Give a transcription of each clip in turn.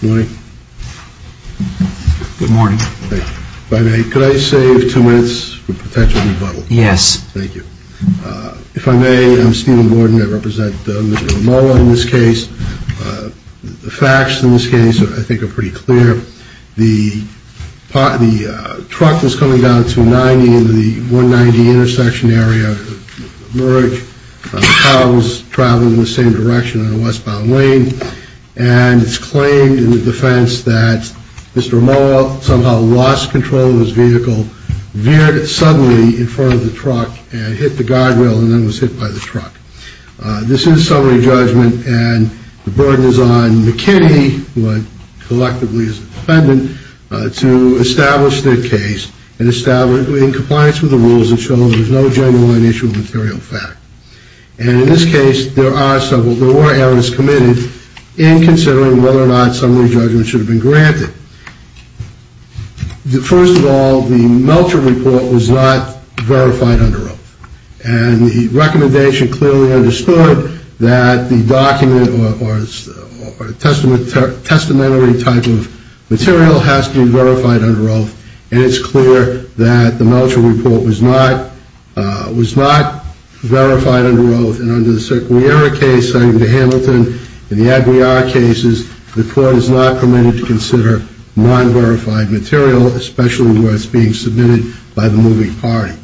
Good morning. If I may, could I save two minutes for potential rebuttal? Yes. Thank you. If I may, I'm Stephen Gordon. I represent Mr. Amoah in this case. The facts in this case I think are pretty clear. The truck was coming down at 290 into the 190 intersection area. The car was traveling in the same direction on a westbound lane. And it's claimed in the defense that Mr. Amoah somehow lost control of his vehicle, veered suddenly in front of the truck, and hit the guardrail and then was hit by the truck. This is a summary judgment, and the burden is on McKinney, who I collectively defend, to establish the case in compliance with the rules that show there's no genuine issue of material fact. And in this case, there were errors committed in considering whether or not summary judgment should have been granted. First of all, the Melcher report was not verified under oath. And the recommendation clearly understood that the document or the testamentary type of material has to be verified under oath. And it's clear that the Melcher report was not verified under oath. And under the Circular Error case, the Hamilton and the Aguiar cases, the court is not permitted to consider non-verified material, especially where it's being submitted by the moving party.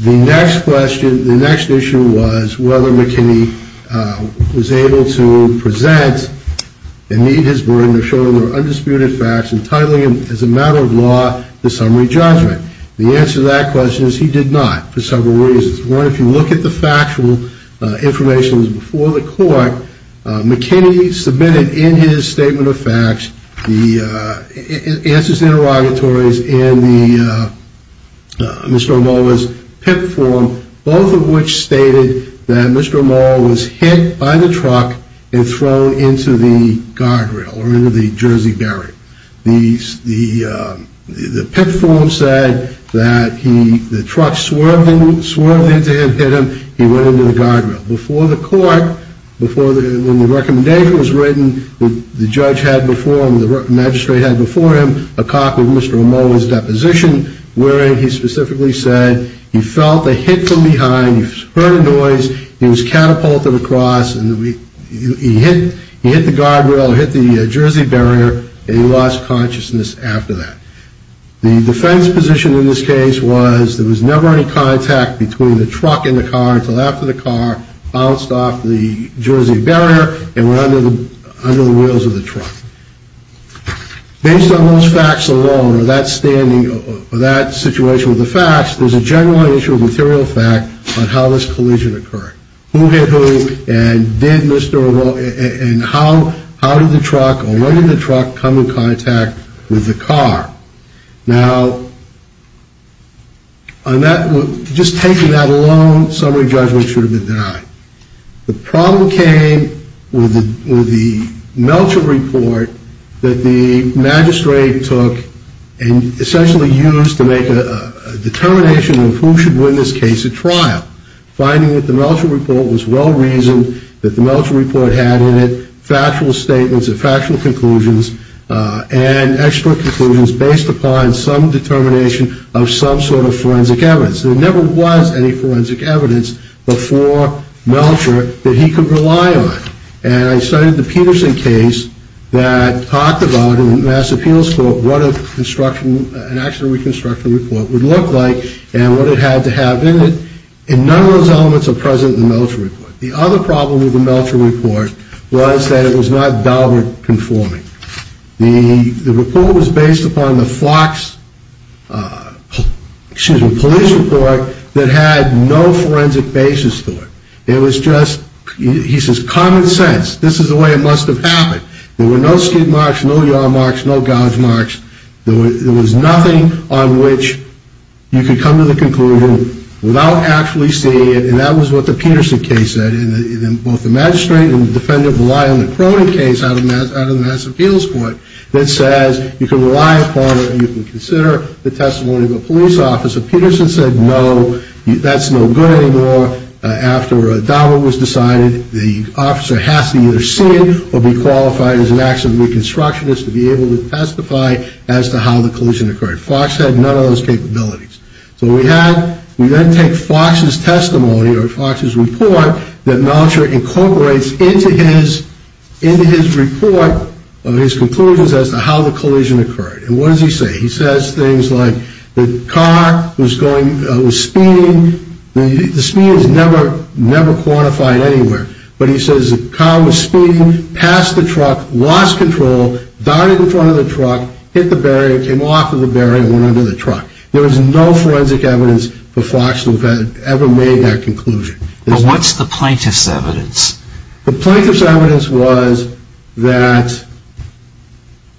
The next question, the next issue was whether McKinney was able to present and meet his burden of showing there were undisputed facts, and titling them as a matter of law, the summary judgment. The answer to that question is he did not, for several reasons. One, if you look at the factual information that was before the court, McKinney submitted in his statement of facts, the answers to interrogatories and Mr. O'Muller's PIP form, both of which stated that Mr. O'Muller was hit by the truck and thrown into the guardrail, or into the jersey barrier. The PIP form said that the truck swerved into him, hit him, he went into the guardrail. Before the court, when the recommendation was written, the judge had before him, the magistrate had before him, a copy of Mr. O'Muller's deposition, wherein he specifically said he felt a hit from behind, he heard a noise, he was catapulted across, and he hit the guardrail or hit the jersey barrier, and he lost consciousness after that. The defense position in this case was there was never any contact between the truck and the car until after the car bounced off the jersey barrier and went under the wheels of the truck. Based on those facts alone, or that standing, or that situation with the facts, there's a general issue of material fact on how this collision occurred. Who hit who, and did Mr. O'Muller, and how did the truck, or when did the truck come in contact with the car? Now, just taking that alone, summary judgment should have been denied. The problem came with the Melcher report that the magistrate took and essentially used to make a determination of who should win this case at trial. Finding that the Melcher report was well-reasoned, that the Melcher report had in it factual statements and factual conclusions, and expert conclusions based upon some determination of some sort of forensic evidence. There never was any forensic evidence before Melcher that he could rely on. And I studied the Peterson case that talked about in the Mass Appeals Court what an accident reconstruction report would look like and what it had to have in it, and none of those elements are present in the Melcher report. The other problem with the Melcher report was that it was not Daubert conforming. The report was based upon the Fox, excuse me, police report that had no forensic basis to it. It was just, he says, common sense. This is the way it must have happened. There were no skid marks, no yard marks, no gouge marks. There was nothing on which you could come to the conclusion without actually seeing it, and that was what the Peterson case said, and both the magistrate and the defendant rely on the Cronin case out of the Mass Appeals Court that says you can rely upon or you can consider the testimony of a police officer. Peterson said, no, that's no good anymore. After Daubert was decided, the officer has to either see it or be qualified as an accident reconstructionist to be able to testify as to how the collision occurred. Fox had none of those capabilities. So we then take Fox's testimony or Fox's report that Melcher incorporates into his report, his conclusions as to how the collision occurred, and what does he say? He says things like the car was speeding. The speed is never quantified anywhere, but he says the car was speeding past the truck, lost control, dived in front of the truck, hit the barrier, came off of the barrier and went under the truck. There was no forensic evidence that Fox had ever made that conclusion. But what's the plaintiff's evidence? The plaintiff's evidence was that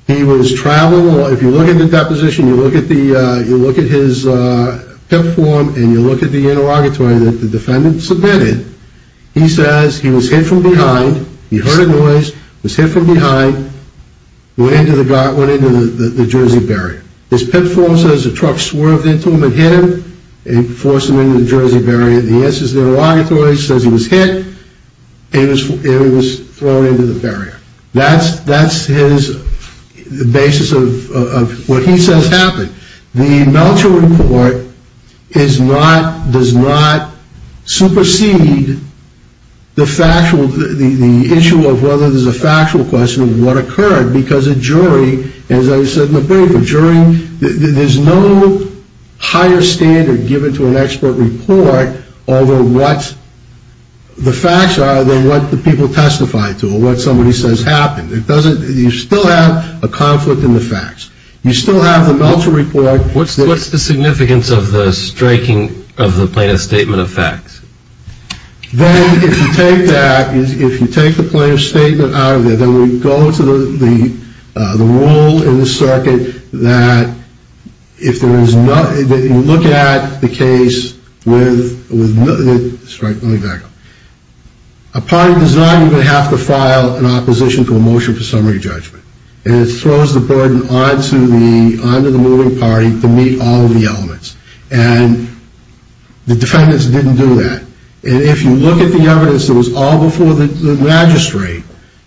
he was traveling, or if you look at the deposition, you look at his PIP form and you look at the interrogatory that the defendant submitted, he says he was hit from behind, he heard a noise, was hit from behind, went into the Jersey barrier. His PIP form says the truck swerved into him and hit him and forced him into the Jersey barrier. The answer is the interrogatory says he was hit and he was thrown into the barrier. That's his basis of what he says happened. The Meltzer Report does not supersede the issue of whether there's a factual question of what occurred, because a jury, as I said in the paper, there's no higher standard given to an expert report over what the facts are than what the people testify to or what somebody says happened. You still have a conflict in the facts. You still have the Meltzer Report. What's the significance of the striking of the plaintiff's statement of facts? Then if you take that, if you take the plaintiff's statement out of there, then we go to the rule in the circuit that if there is no, that you look at the case with, let me back up, upon design you're going to have to file an opposition to a motion for summary judgment. And it throws the burden onto the moving party to meet all of the elements. And the defendants didn't do that. And if you look at the evidence that was all before the magistrate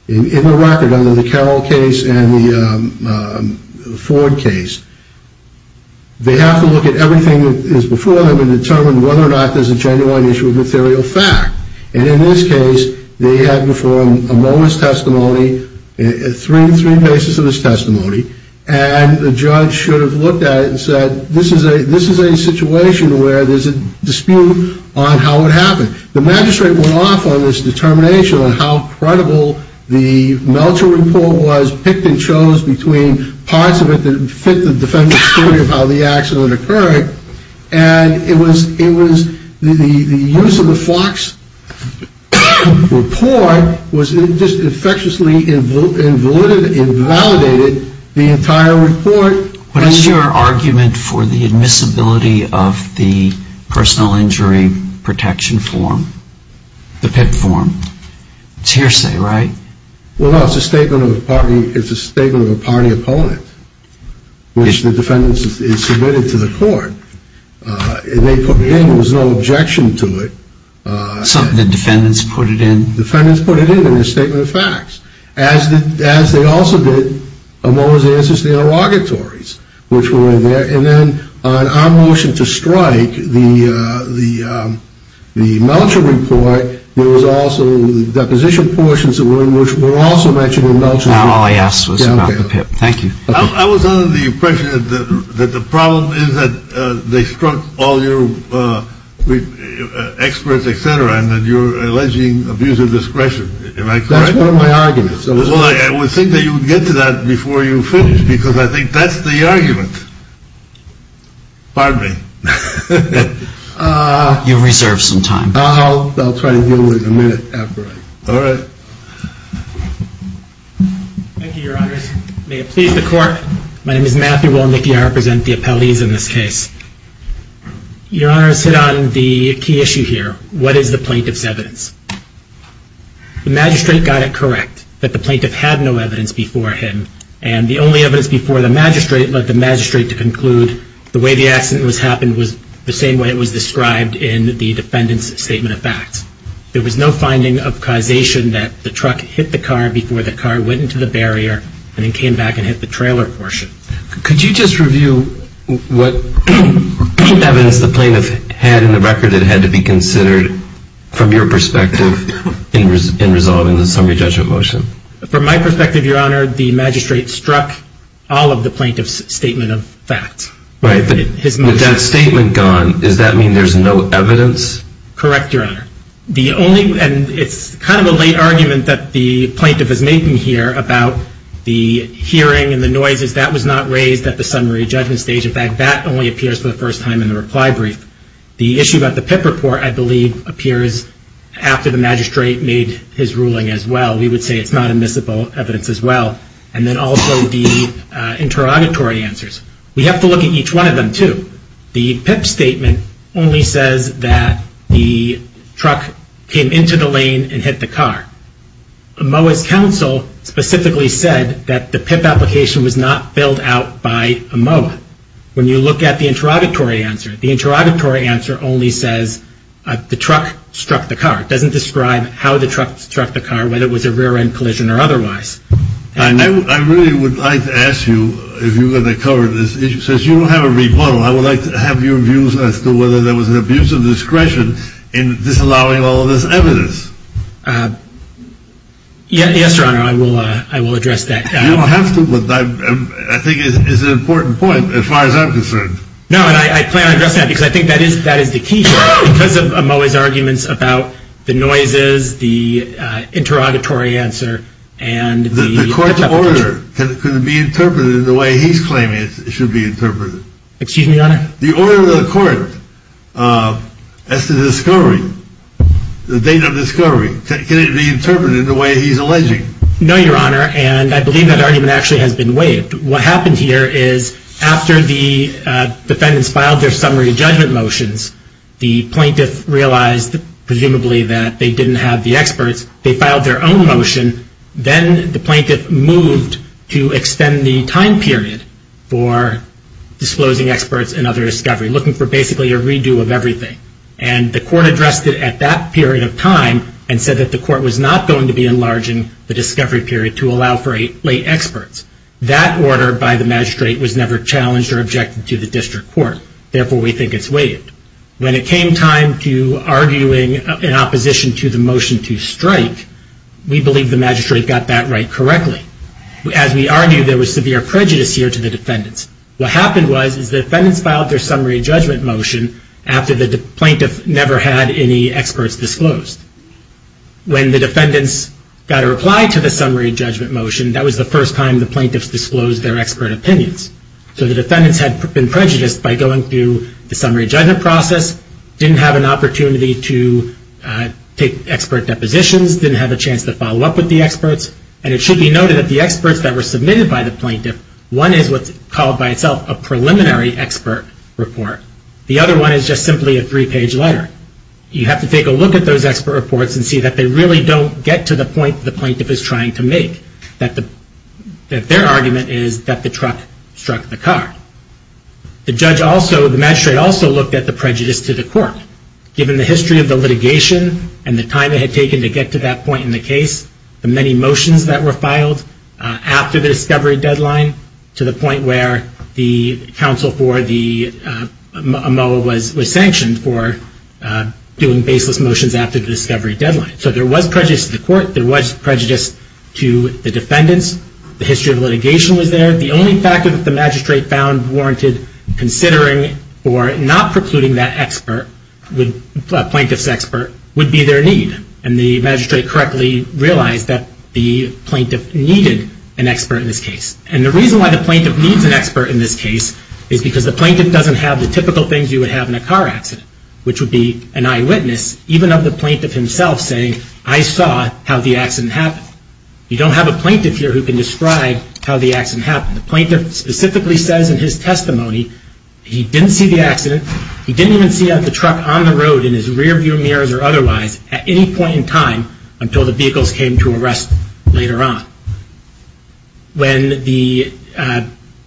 in the record, under the Carroll case and the Ford case, they have to look at everything that is before them and determine whether or not there's a genuine issue of material fact. And in this case, they had before him a moment's testimony, three cases of his testimony. And the judge should have looked at it and said, this is a situation where there's a dispute on how it happened. The magistrate went off on this determination on how credible the Meltzer Report was, picked and chose between parts of it that fit the defendant's theory of how the accident occurred. And it was the use of the Fox Report was just infectiously invalidated the entire report. What is your argument for the admissibility of the personal injury protection form, the PIP form? It's hearsay, right? Well, no. It's a statement of a party opponent, which the defendants submitted to the court. They put it in. There was no objection to it. Something that defendants put it in? Defendants put it in, in their statement of facts, as they also did Amoah's Ancestry Interrogatories, which were there. And then on our motion to strike, the Meltzer Report, there was also the deposition portions that were also mentioned in Meltzer Report. Now all I asked was about the PIP. Thank you. I was under the impression that the problem is that they struck all your experts, et cetera, and that you're alleging abuser discretion. Am I correct? That's part of my argument. Well, I would think that you would get to that before you finish, because I think that's the argument. Pardon me. You reserve some time. I'll try to deal with it in a minute. All right. Thank you, Your Honors. May it please the Court. My name is Matthew Wolnicki. I represent the appellees in this case. Your Honors hit on the key issue here. What is the plaintiff's evidence? The magistrate got it correct that the plaintiff had no evidence before him, and the only evidence before the magistrate led the magistrate to conclude the way the accident happened was the same way it was described in the defendant's statement of facts. There was no finding of causation that the truck hit the car before the car went into the barrier and then came back and hit the trailer portion. Could you just review what evidence the plaintiff had in the record that had to be considered from your perspective in resolving the summary judgment motion? From my perspective, Your Honor, the magistrate struck all of the plaintiff's statement of facts. Right. With that statement gone, does that mean there's no evidence? Correct, Your Honor. And it's kind of a late argument that the plaintiff is making here about the hearing and the noises. That was not raised at the summary judgment stage. In fact, that only appears for the first time in the reply brief. The issue about the PIP report, I believe, appears after the magistrate made his ruling as well. We would say it's not admissible evidence as well. And then also the interrogatory answers. We have to look at each one of them, too. The PIP statement only says that the truck came into the lane and hit the car. Moa's counsel specifically said that the PIP application was not filled out by Moa. When you look at the interrogatory answer, the interrogatory answer only says the truck struck the car. It doesn't describe how the truck struck the car, whether it was a rear-end collision or otherwise. I really would like to ask you, if you're going to cover this issue, since you don't have a rebuttal, I would like to have your views as to whether there was an abuse of discretion in disallowing all of this evidence. Yes, Your Honor, I will address that. You don't have to, but I think it's an important point as far as I'm concerned. No, and I plan on addressing that because I think that is the key issue. Because of Moa's arguments about the noises, the interrogatory answer, and the— The court's order, can it be interpreted in the way he's claiming it should be interpreted? Excuse me, Your Honor? The order of the court as to the discovery, the date of discovery, can it be interpreted in the way he's alleging? No, Your Honor, and I believe that argument actually has been waived. What happened here is after the defendants filed their summary judgment motions, the plaintiff realized, presumably, that they didn't have the experts. They filed their own motion. Then the plaintiff moved to extend the time period for disclosing experts and other discovery, looking for basically a redo of everything. And the court addressed it at that period of time and said that the court was not going to be enlarging the discovery period to allow for late experts. That order by the magistrate was never challenged or objected to the district court. Therefore, we think it's waived. When it came time to arguing in opposition to the motion to strike, we believe the magistrate got that right correctly. As we argue, there was severe prejudice here to the defendants. What happened was is the defendants filed their summary judgment motion after the plaintiff never had any experts disclosed. When the defendants got a reply to the summary judgment motion, that was the first time the plaintiffs disclosed their expert opinions. So the defendants had been prejudiced by going through the summary judgment process, didn't have an opportunity to take expert depositions, didn't have a chance to follow up with the experts. And it should be noted that the experts that were submitted by the plaintiff, one is what's called by itself a preliminary expert report. The other one is just simply a three-page letter. You have to take a look at those expert reports and see that they really don't get to the point the plaintiff is trying to make, that their argument is that the truck struck the car. The magistrate also looked at the prejudice to the court. Given the history of the litigation and the time it had taken to get to that point in the case, the many motions that were filed after the discovery deadline, to the point where the counsel for the MOA was sanctioned for doing baseless motions after the discovery deadline. So there was prejudice to the court. There was prejudice to the defendants. The history of litigation was there. The only factor that the magistrate found warranted considering or not precluding that plaintiff's expert would be their need. And the magistrate correctly realized that the plaintiff needed an expert in this case. And the reason why the plaintiff needs an expert in this case is because the plaintiff doesn't have the typical things you would have in a car accident, which would be an eyewitness, even of the plaintiff himself saying, I saw how the accident happened. You don't have a plaintiff here who can describe how the accident happened. The plaintiff specifically says in his testimony he didn't see the accident. He didn't even see the truck on the road in his rearview mirrors or otherwise at any point in time until the vehicles came to arrest later on. When the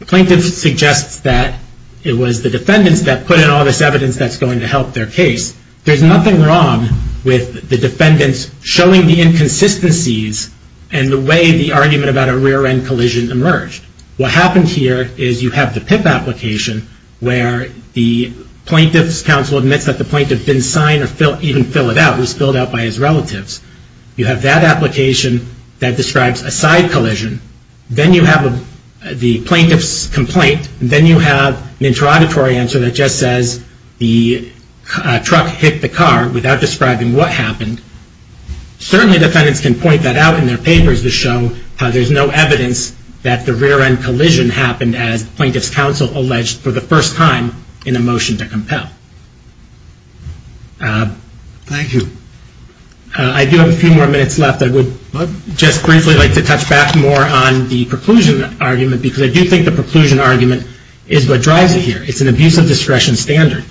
plaintiff suggests that it was the defendants that put in all this evidence that's going to help their case, there's nothing wrong with the defendants showing the inconsistencies and the way the argument about a rear-end collision emerged. What happened here is you have the PIP application, where the plaintiff's counsel admits that the plaintiff didn't sign or even fill it out. It was filled out by his relatives. You have that application that describes a side collision. Then you have the plaintiff's complaint. Then you have an interrogatory answer that just says the truck hit the car without describing what happened. Certainly defendants can point that out in their papers to show how there's no evidence that the rear-end collision happened as the plaintiff's counsel alleged for the first time in a motion to compel. Thank you. I do have a few more minutes left. I would just briefly like to touch back more on the preclusion argument because I do think the preclusion argument is what drives it here. It's an abuse of discretion standard.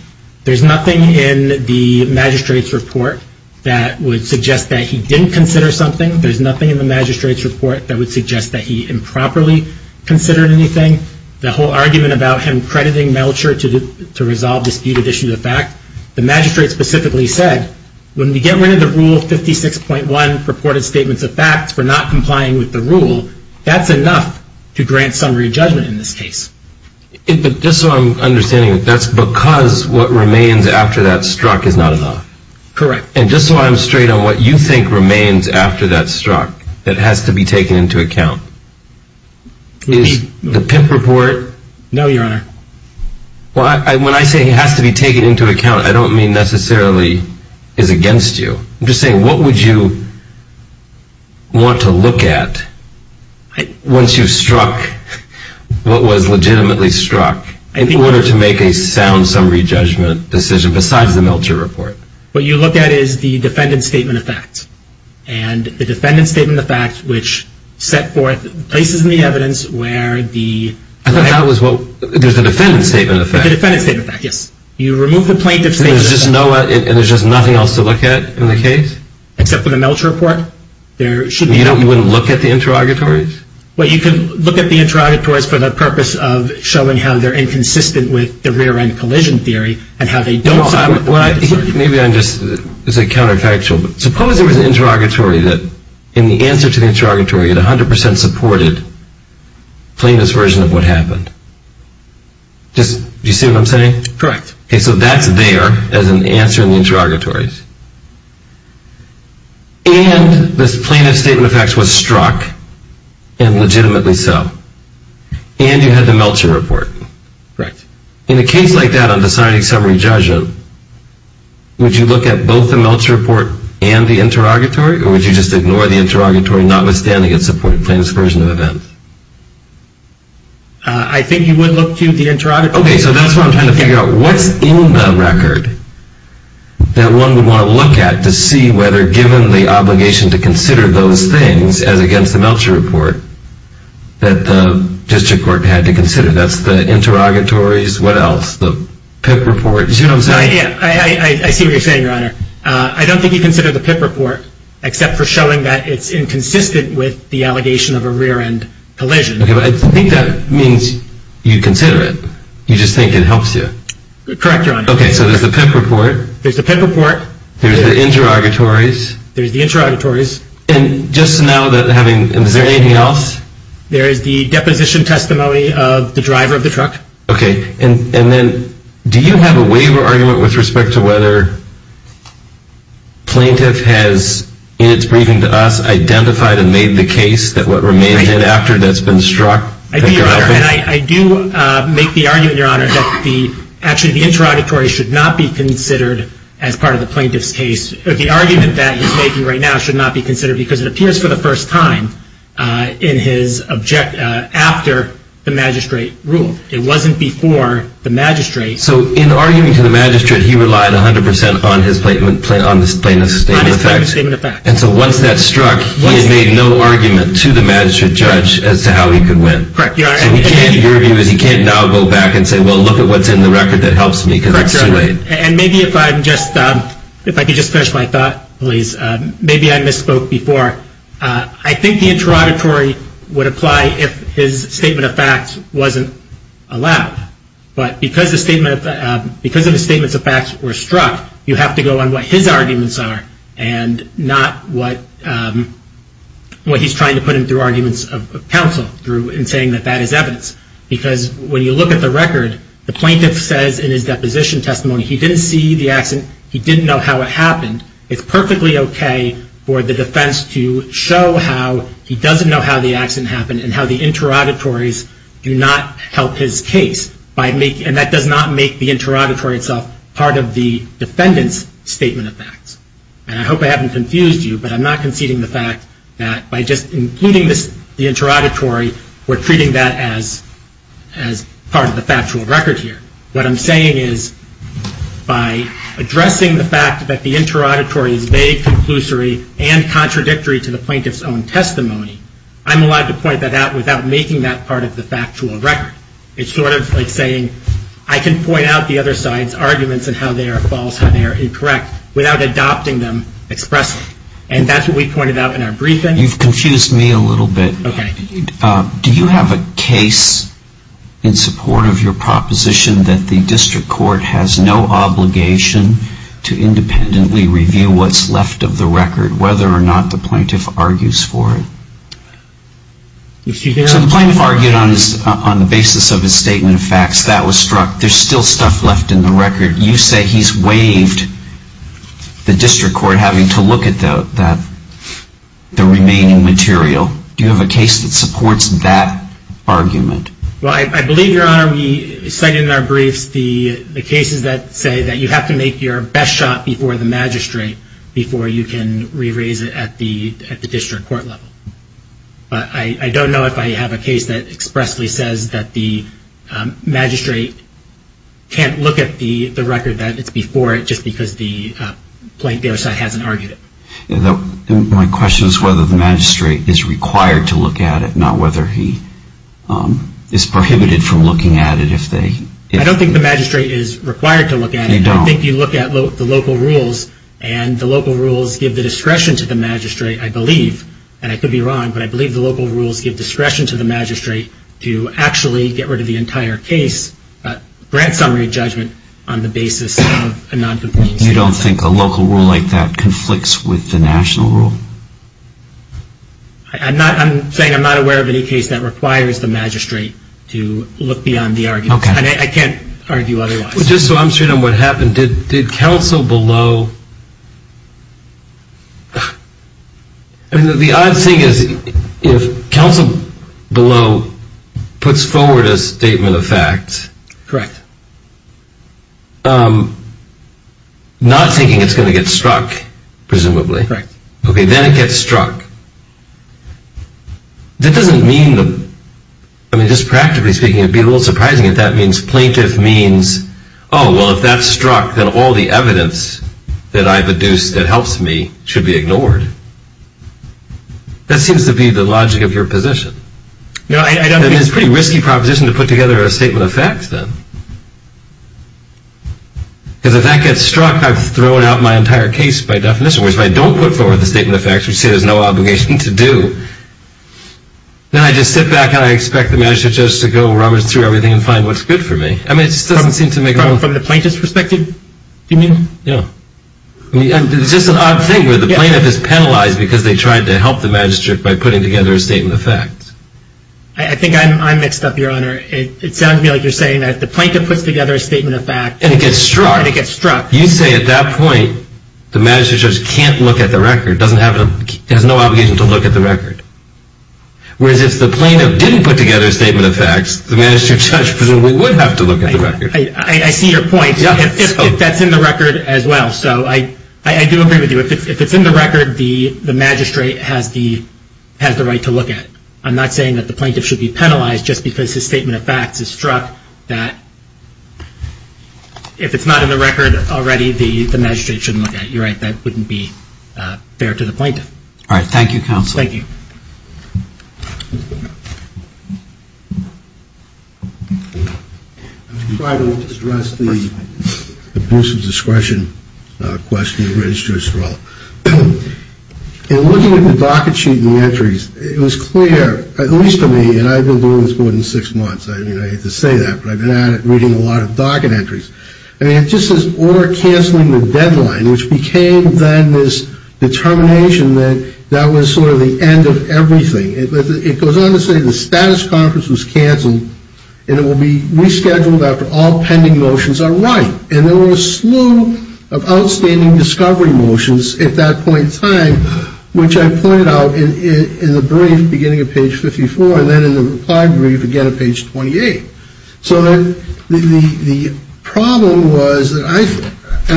There's nothing in the magistrate's report that would suggest that he didn't consider something. There's nothing in the magistrate's report that would suggest that he improperly considered anything. The whole argument about him crediting Melcher to resolve disputed issues of fact, the magistrate specifically said, when we get rid of the Rule 56.1 purported statements of facts for not complying with the rule, that's enough to grant summary judgment in this case. Just so I'm understanding, that's because what remains after that struck is not enough. Correct. And just so I'm straight on what you think remains after that struck that has to be taken into account, is the PIMP report... No, Your Honor. When I say it has to be taken into account, I don't mean necessarily is against you. I'm just saying, what would you want to look at once you struck what was legitimately struck in order to make a sound summary judgment decision besides the Melcher report? What you look at is the defendant's statement of fact. And the defendant's statement of fact, which set forth places in the evidence where the... I thought that was what... there's the defendant's statement of fact. The defendant's statement of fact, yes. You remove the plaintiff's statement of fact... And there's just nothing else to look at in the case? Except for the Melcher report. You wouldn't look at the interrogatories? Well, you can look at the interrogatories for the purpose of showing how they're inconsistent with the rear-end collision theory and how they don't... Maybe I'm just... this is counterfactual, but suppose there was an interrogatory that, in the answer to the interrogatory, it 100% supported the plaintiff's version of what happened. Do you see what I'm saying? Correct. Okay, so that's there as an answer in the interrogatories. And this plaintiff's statement of fact was struck, and legitimately so. And you had the Melcher report. Correct. In a case like that on deciding summary judgment, would you look at both the Melcher report and the interrogatory, or would you just ignore the interrogatory notwithstanding its supported plaintiff's version of events? I think you would look to the interrogatory. Okay, so that's what I'm trying to figure out. What's in the record that one would want to look at to see whether given the obligation to consider those things as against the Melcher report that the district court had to consider? That's the interrogatories. What else? The PIP report. Do you see what I'm saying? I see what you're saying, Your Honor. I don't think you consider the PIP report except for showing that it's inconsistent with the allegation of a rear-end collision. Okay, but I think that means you consider it. You just think it helps you. Correct, Your Honor. Okay, so there's the PIP report. There's the PIP report. There's the interrogatories. There's the interrogatories. And just now, is there anything else? There is the deposition testimony of the driver of the truck. Okay, and then do you have a waiver argument with respect to whether plaintiff has, in its briefing to us, identified and made the case that what remains head after that's been struck? I do, Your Honor, and I do make the argument, Your Honor, that actually the interrogatories should not be considered as part of the plaintiff's case. The argument that he's making right now should not be considered because it appears for the first time after the magistrate ruled. It wasn't before the magistrate. So in arguing to the magistrate, he relied 100% on his plaintiff's statement of facts. On his plaintiff's statement of facts. And so once that struck, he had made no argument to the magistrate judge as to how he could win. Correct, Your Honor. So he can't, your view is he can't now go back and say, well, look at what's in the record that helps me because it's too late. Correct, Your Honor. And maybe if I can just finish my thought, please. Maybe I misspoke before. I think the interrogatory would apply if his statement of facts wasn't allowed. But because of the statements of facts were struck, you have to go on what his arguments are and not what he's trying to put in through arguments of counsel and saying that that is evidence. Because when you look at the record, the plaintiff says in his deposition testimony, he didn't see the accident, he didn't know how it happened. It's perfectly okay for the defense to show how he doesn't know how the accident happened and how the interrogatories do not help his case. And that does not make the interrogatory itself part of the defendant's statement of facts. And I hope I haven't confused you, but I'm not conceding the fact that by just including the interrogatory, we're treating that as part of the factual record here. What I'm saying is by addressing the fact that the interrogatory is vague, conclusory, and contradictory to the plaintiff's own testimony, I'm allowed to point that out without making that part of the factual record. It's sort of like saying I can point out the other side's arguments and how they are false, how they are incorrect, without adopting them expressly. And that's what we pointed out in our briefing. You've confused me a little bit. Okay. Do you have a case in support of your proposition that the district court has no obligation to independently review what's left of the record, whether or not the plaintiff argues for it? So the plaintiff argued on the basis of his statement of facts. That was struck. There's still stuff left in the record. You say he's waived the district court having to look at the remaining material. Do you have a case that supports that argument? Well, I believe, Your Honor, we cite in our briefs the cases that say that you have to make your best shot before the magistrate before you can re-raise it at the district court level. But I don't know if I have a case that expressly says that the magistrate can't look at the record, that it's before it just because the plaintiff hasn't argued it. My question is whether the magistrate is required to look at it, not whether he is prohibited from looking at it. I don't think the magistrate is required to look at it. I think you look at the local rules, and the local rules give the discretion to the magistrate, I believe. And I could be wrong, but I believe the local rules give discretion to the magistrate to actually get rid of the entire case, grant summary judgment, on the basis of a noncompliance. You don't think a local rule like that conflicts with the national rule? I'm saying I'm not aware of any case that requires the magistrate to look beyond the argument. Okay. And I can't argue otherwise. Just so I'm straight on what happened, did counsel below— I mean, the odd thing is if counsel below puts forward a statement of fact— Correct. Not thinking it's going to get struck, presumably. Correct. Okay, then it gets struck. That doesn't mean the—I mean, just practically speaking, it would be a little surprising if that means plaintiff means, oh, well, if that's struck, then all the evidence that I've adduced that helps me should be ignored. That seems to be the logic of your position. No, I don't— Then it's a pretty risky proposition to put together a statement of fact, then. Because if that gets struck, I've thrown out my entire case by definition. Whereas if I don't put forward the statement of fact, which you say there's no obligation to do, then I just sit back and I expect the magistrate judge to go rummage through everything and find what's good for me. I mean, it just doesn't seem to make— From the plaintiff's perspective, do you mean? Yeah. I mean, it's just an odd thing where the plaintiff is penalized because they tried to help the magistrate by putting together a statement of fact. I think I'm mixed up, Your Honor. It sounds to me like you're saying that if the plaintiff puts together a statement of fact— And it gets struck. And it gets struck. You say at that point the magistrate judge can't look at the record, or has no obligation to look at the record. Whereas if the plaintiff didn't put together a statement of fact, the magistrate judge presumably would have to look at the record. I see your point. If that's in the record as well. So I do agree with you. If it's in the record, the magistrate has the right to look at it. I'm not saying that the plaintiff should be penalized just because his statement of fact is struck. If it's not in the record already, the magistrate shouldn't look at it. You're right. That wouldn't be fair to the plaintiff. All right. Thank you, counsel. Thank you. I'm going to try to address the abuse of discretion question of the magistrate's role. In looking at the docket sheet and the entries, it was clear, at least to me, and I've been doing this more than six months. I hate to say that, but I've been at it reading a lot of docket entries. I mean, it just says, or canceling the deadline, which became then this determination that that was sort of the end of everything. It goes on to say the status conference was canceled, and it will be rescheduled after all pending motions are right. And there were a slew of outstanding discovery motions at that point in time, which I pointed out in the brief beginning at page 54 and then in the reply brief again at page 28. So the problem was, and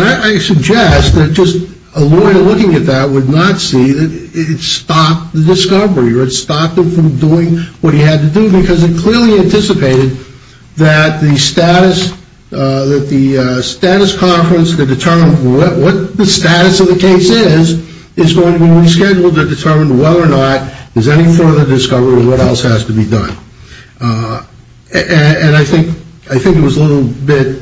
I suggest that just a lawyer looking at that would not see that it stopped the discovery or it stopped him from doing what he had to do because it clearly anticipated that the status conference, the determination of what the status of the case is, is going to be rescheduled to determine whether or not there's any further discovery or what else has to be done. And I think I think it was a little bit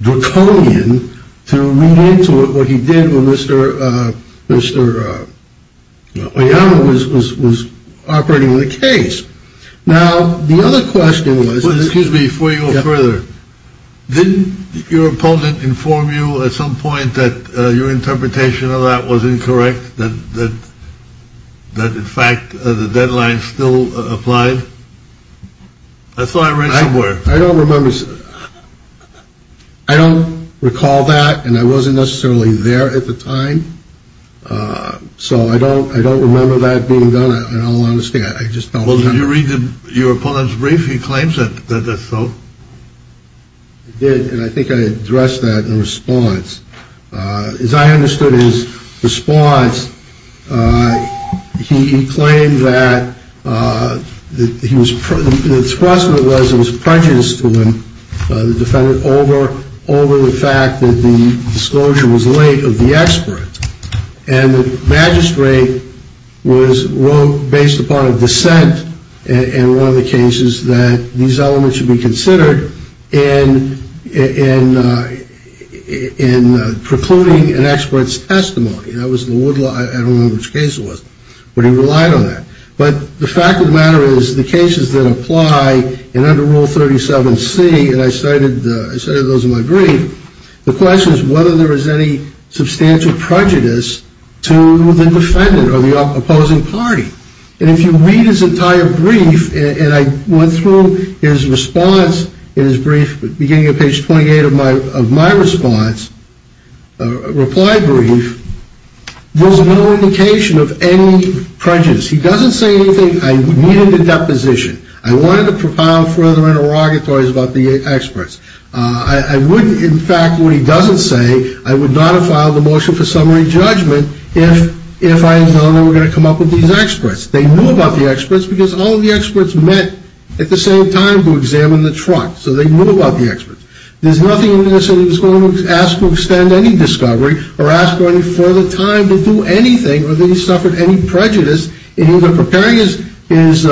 draconian to read into it what he did with Mr. Mr. Young was was was operating the case. Now, the other question was, excuse me, for your brother, didn't your opponent inform you at some point that your interpretation of that was incorrect, that that in fact the deadline still applied? So I read somewhere. I don't remember. I don't recall that. And I wasn't necessarily there at the time. So I don't I don't remember that being done. I don't understand. I just don't know. You read your opponent's brief. He claims that that's so. And I think I addressed that in response. As I understood his response, he claimed that he was. It was prejudice to the defendant over over the fact that the disclosure was late of the expert. And the magistrate was based upon a dissent. And one of the cases that these elements should be considered in in in precluding an expert's testimony. And I was in the wood. I don't know which case it was, but he relied on that. But the fact of the matter is the cases that apply and under Rule 37C. And I cited those in my brief. The question is whether there is any substantial prejudice to the defendant or the opposing party. And if you read his entire brief and I went through his response in his brief beginning of page 28 of my of my response reply brief. There's no indication of any prejudice. He doesn't say anything. I needed a deposition. I wanted to propound further interrogatories about the experts. I wouldn't. In fact, what he doesn't say, I would not have filed a motion for summary judgment. If if I were going to come up with these experts, they knew about the experts because all of the experts met at the same time to examine the truck. So they knew about the experts. There's nothing in this. He was going to ask to extend any discovery or ask for the time to do anything. Or they suffered any prejudice in either preparing his is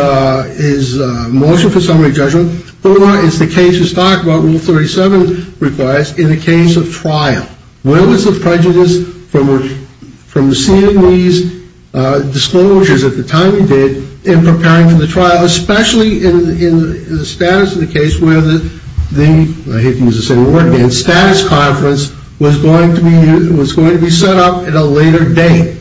his motion for summary judgment. Or it's the cases talk about Rule 37 requires in the case of trial. Where was the prejudice from? From seeing these disclosures at the time you did in preparing for the trial, especially in the status of the case where the I hate to use the same word again. Status conference was going to be was going to be set up at a later date.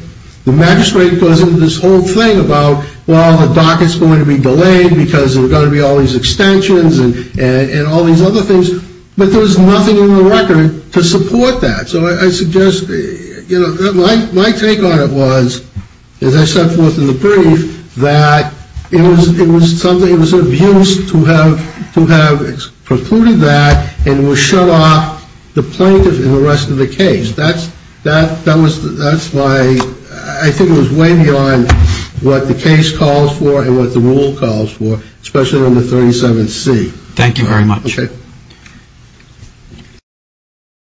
The magistrate goes into this whole thing about, well, the dock is going to be delayed because we're going to be all these extensions and all these other things. But there was nothing in the record to support that. So I suggest my take on it was, as I set forth in the brief, that it was it was something it was abused to have to have precluded that. And we'll shut off the plaintiff in the rest of the case. That's that that was that's why I think it was way beyond what the case calls for and what the rule calls for, especially on the 37th. See, thank you very much.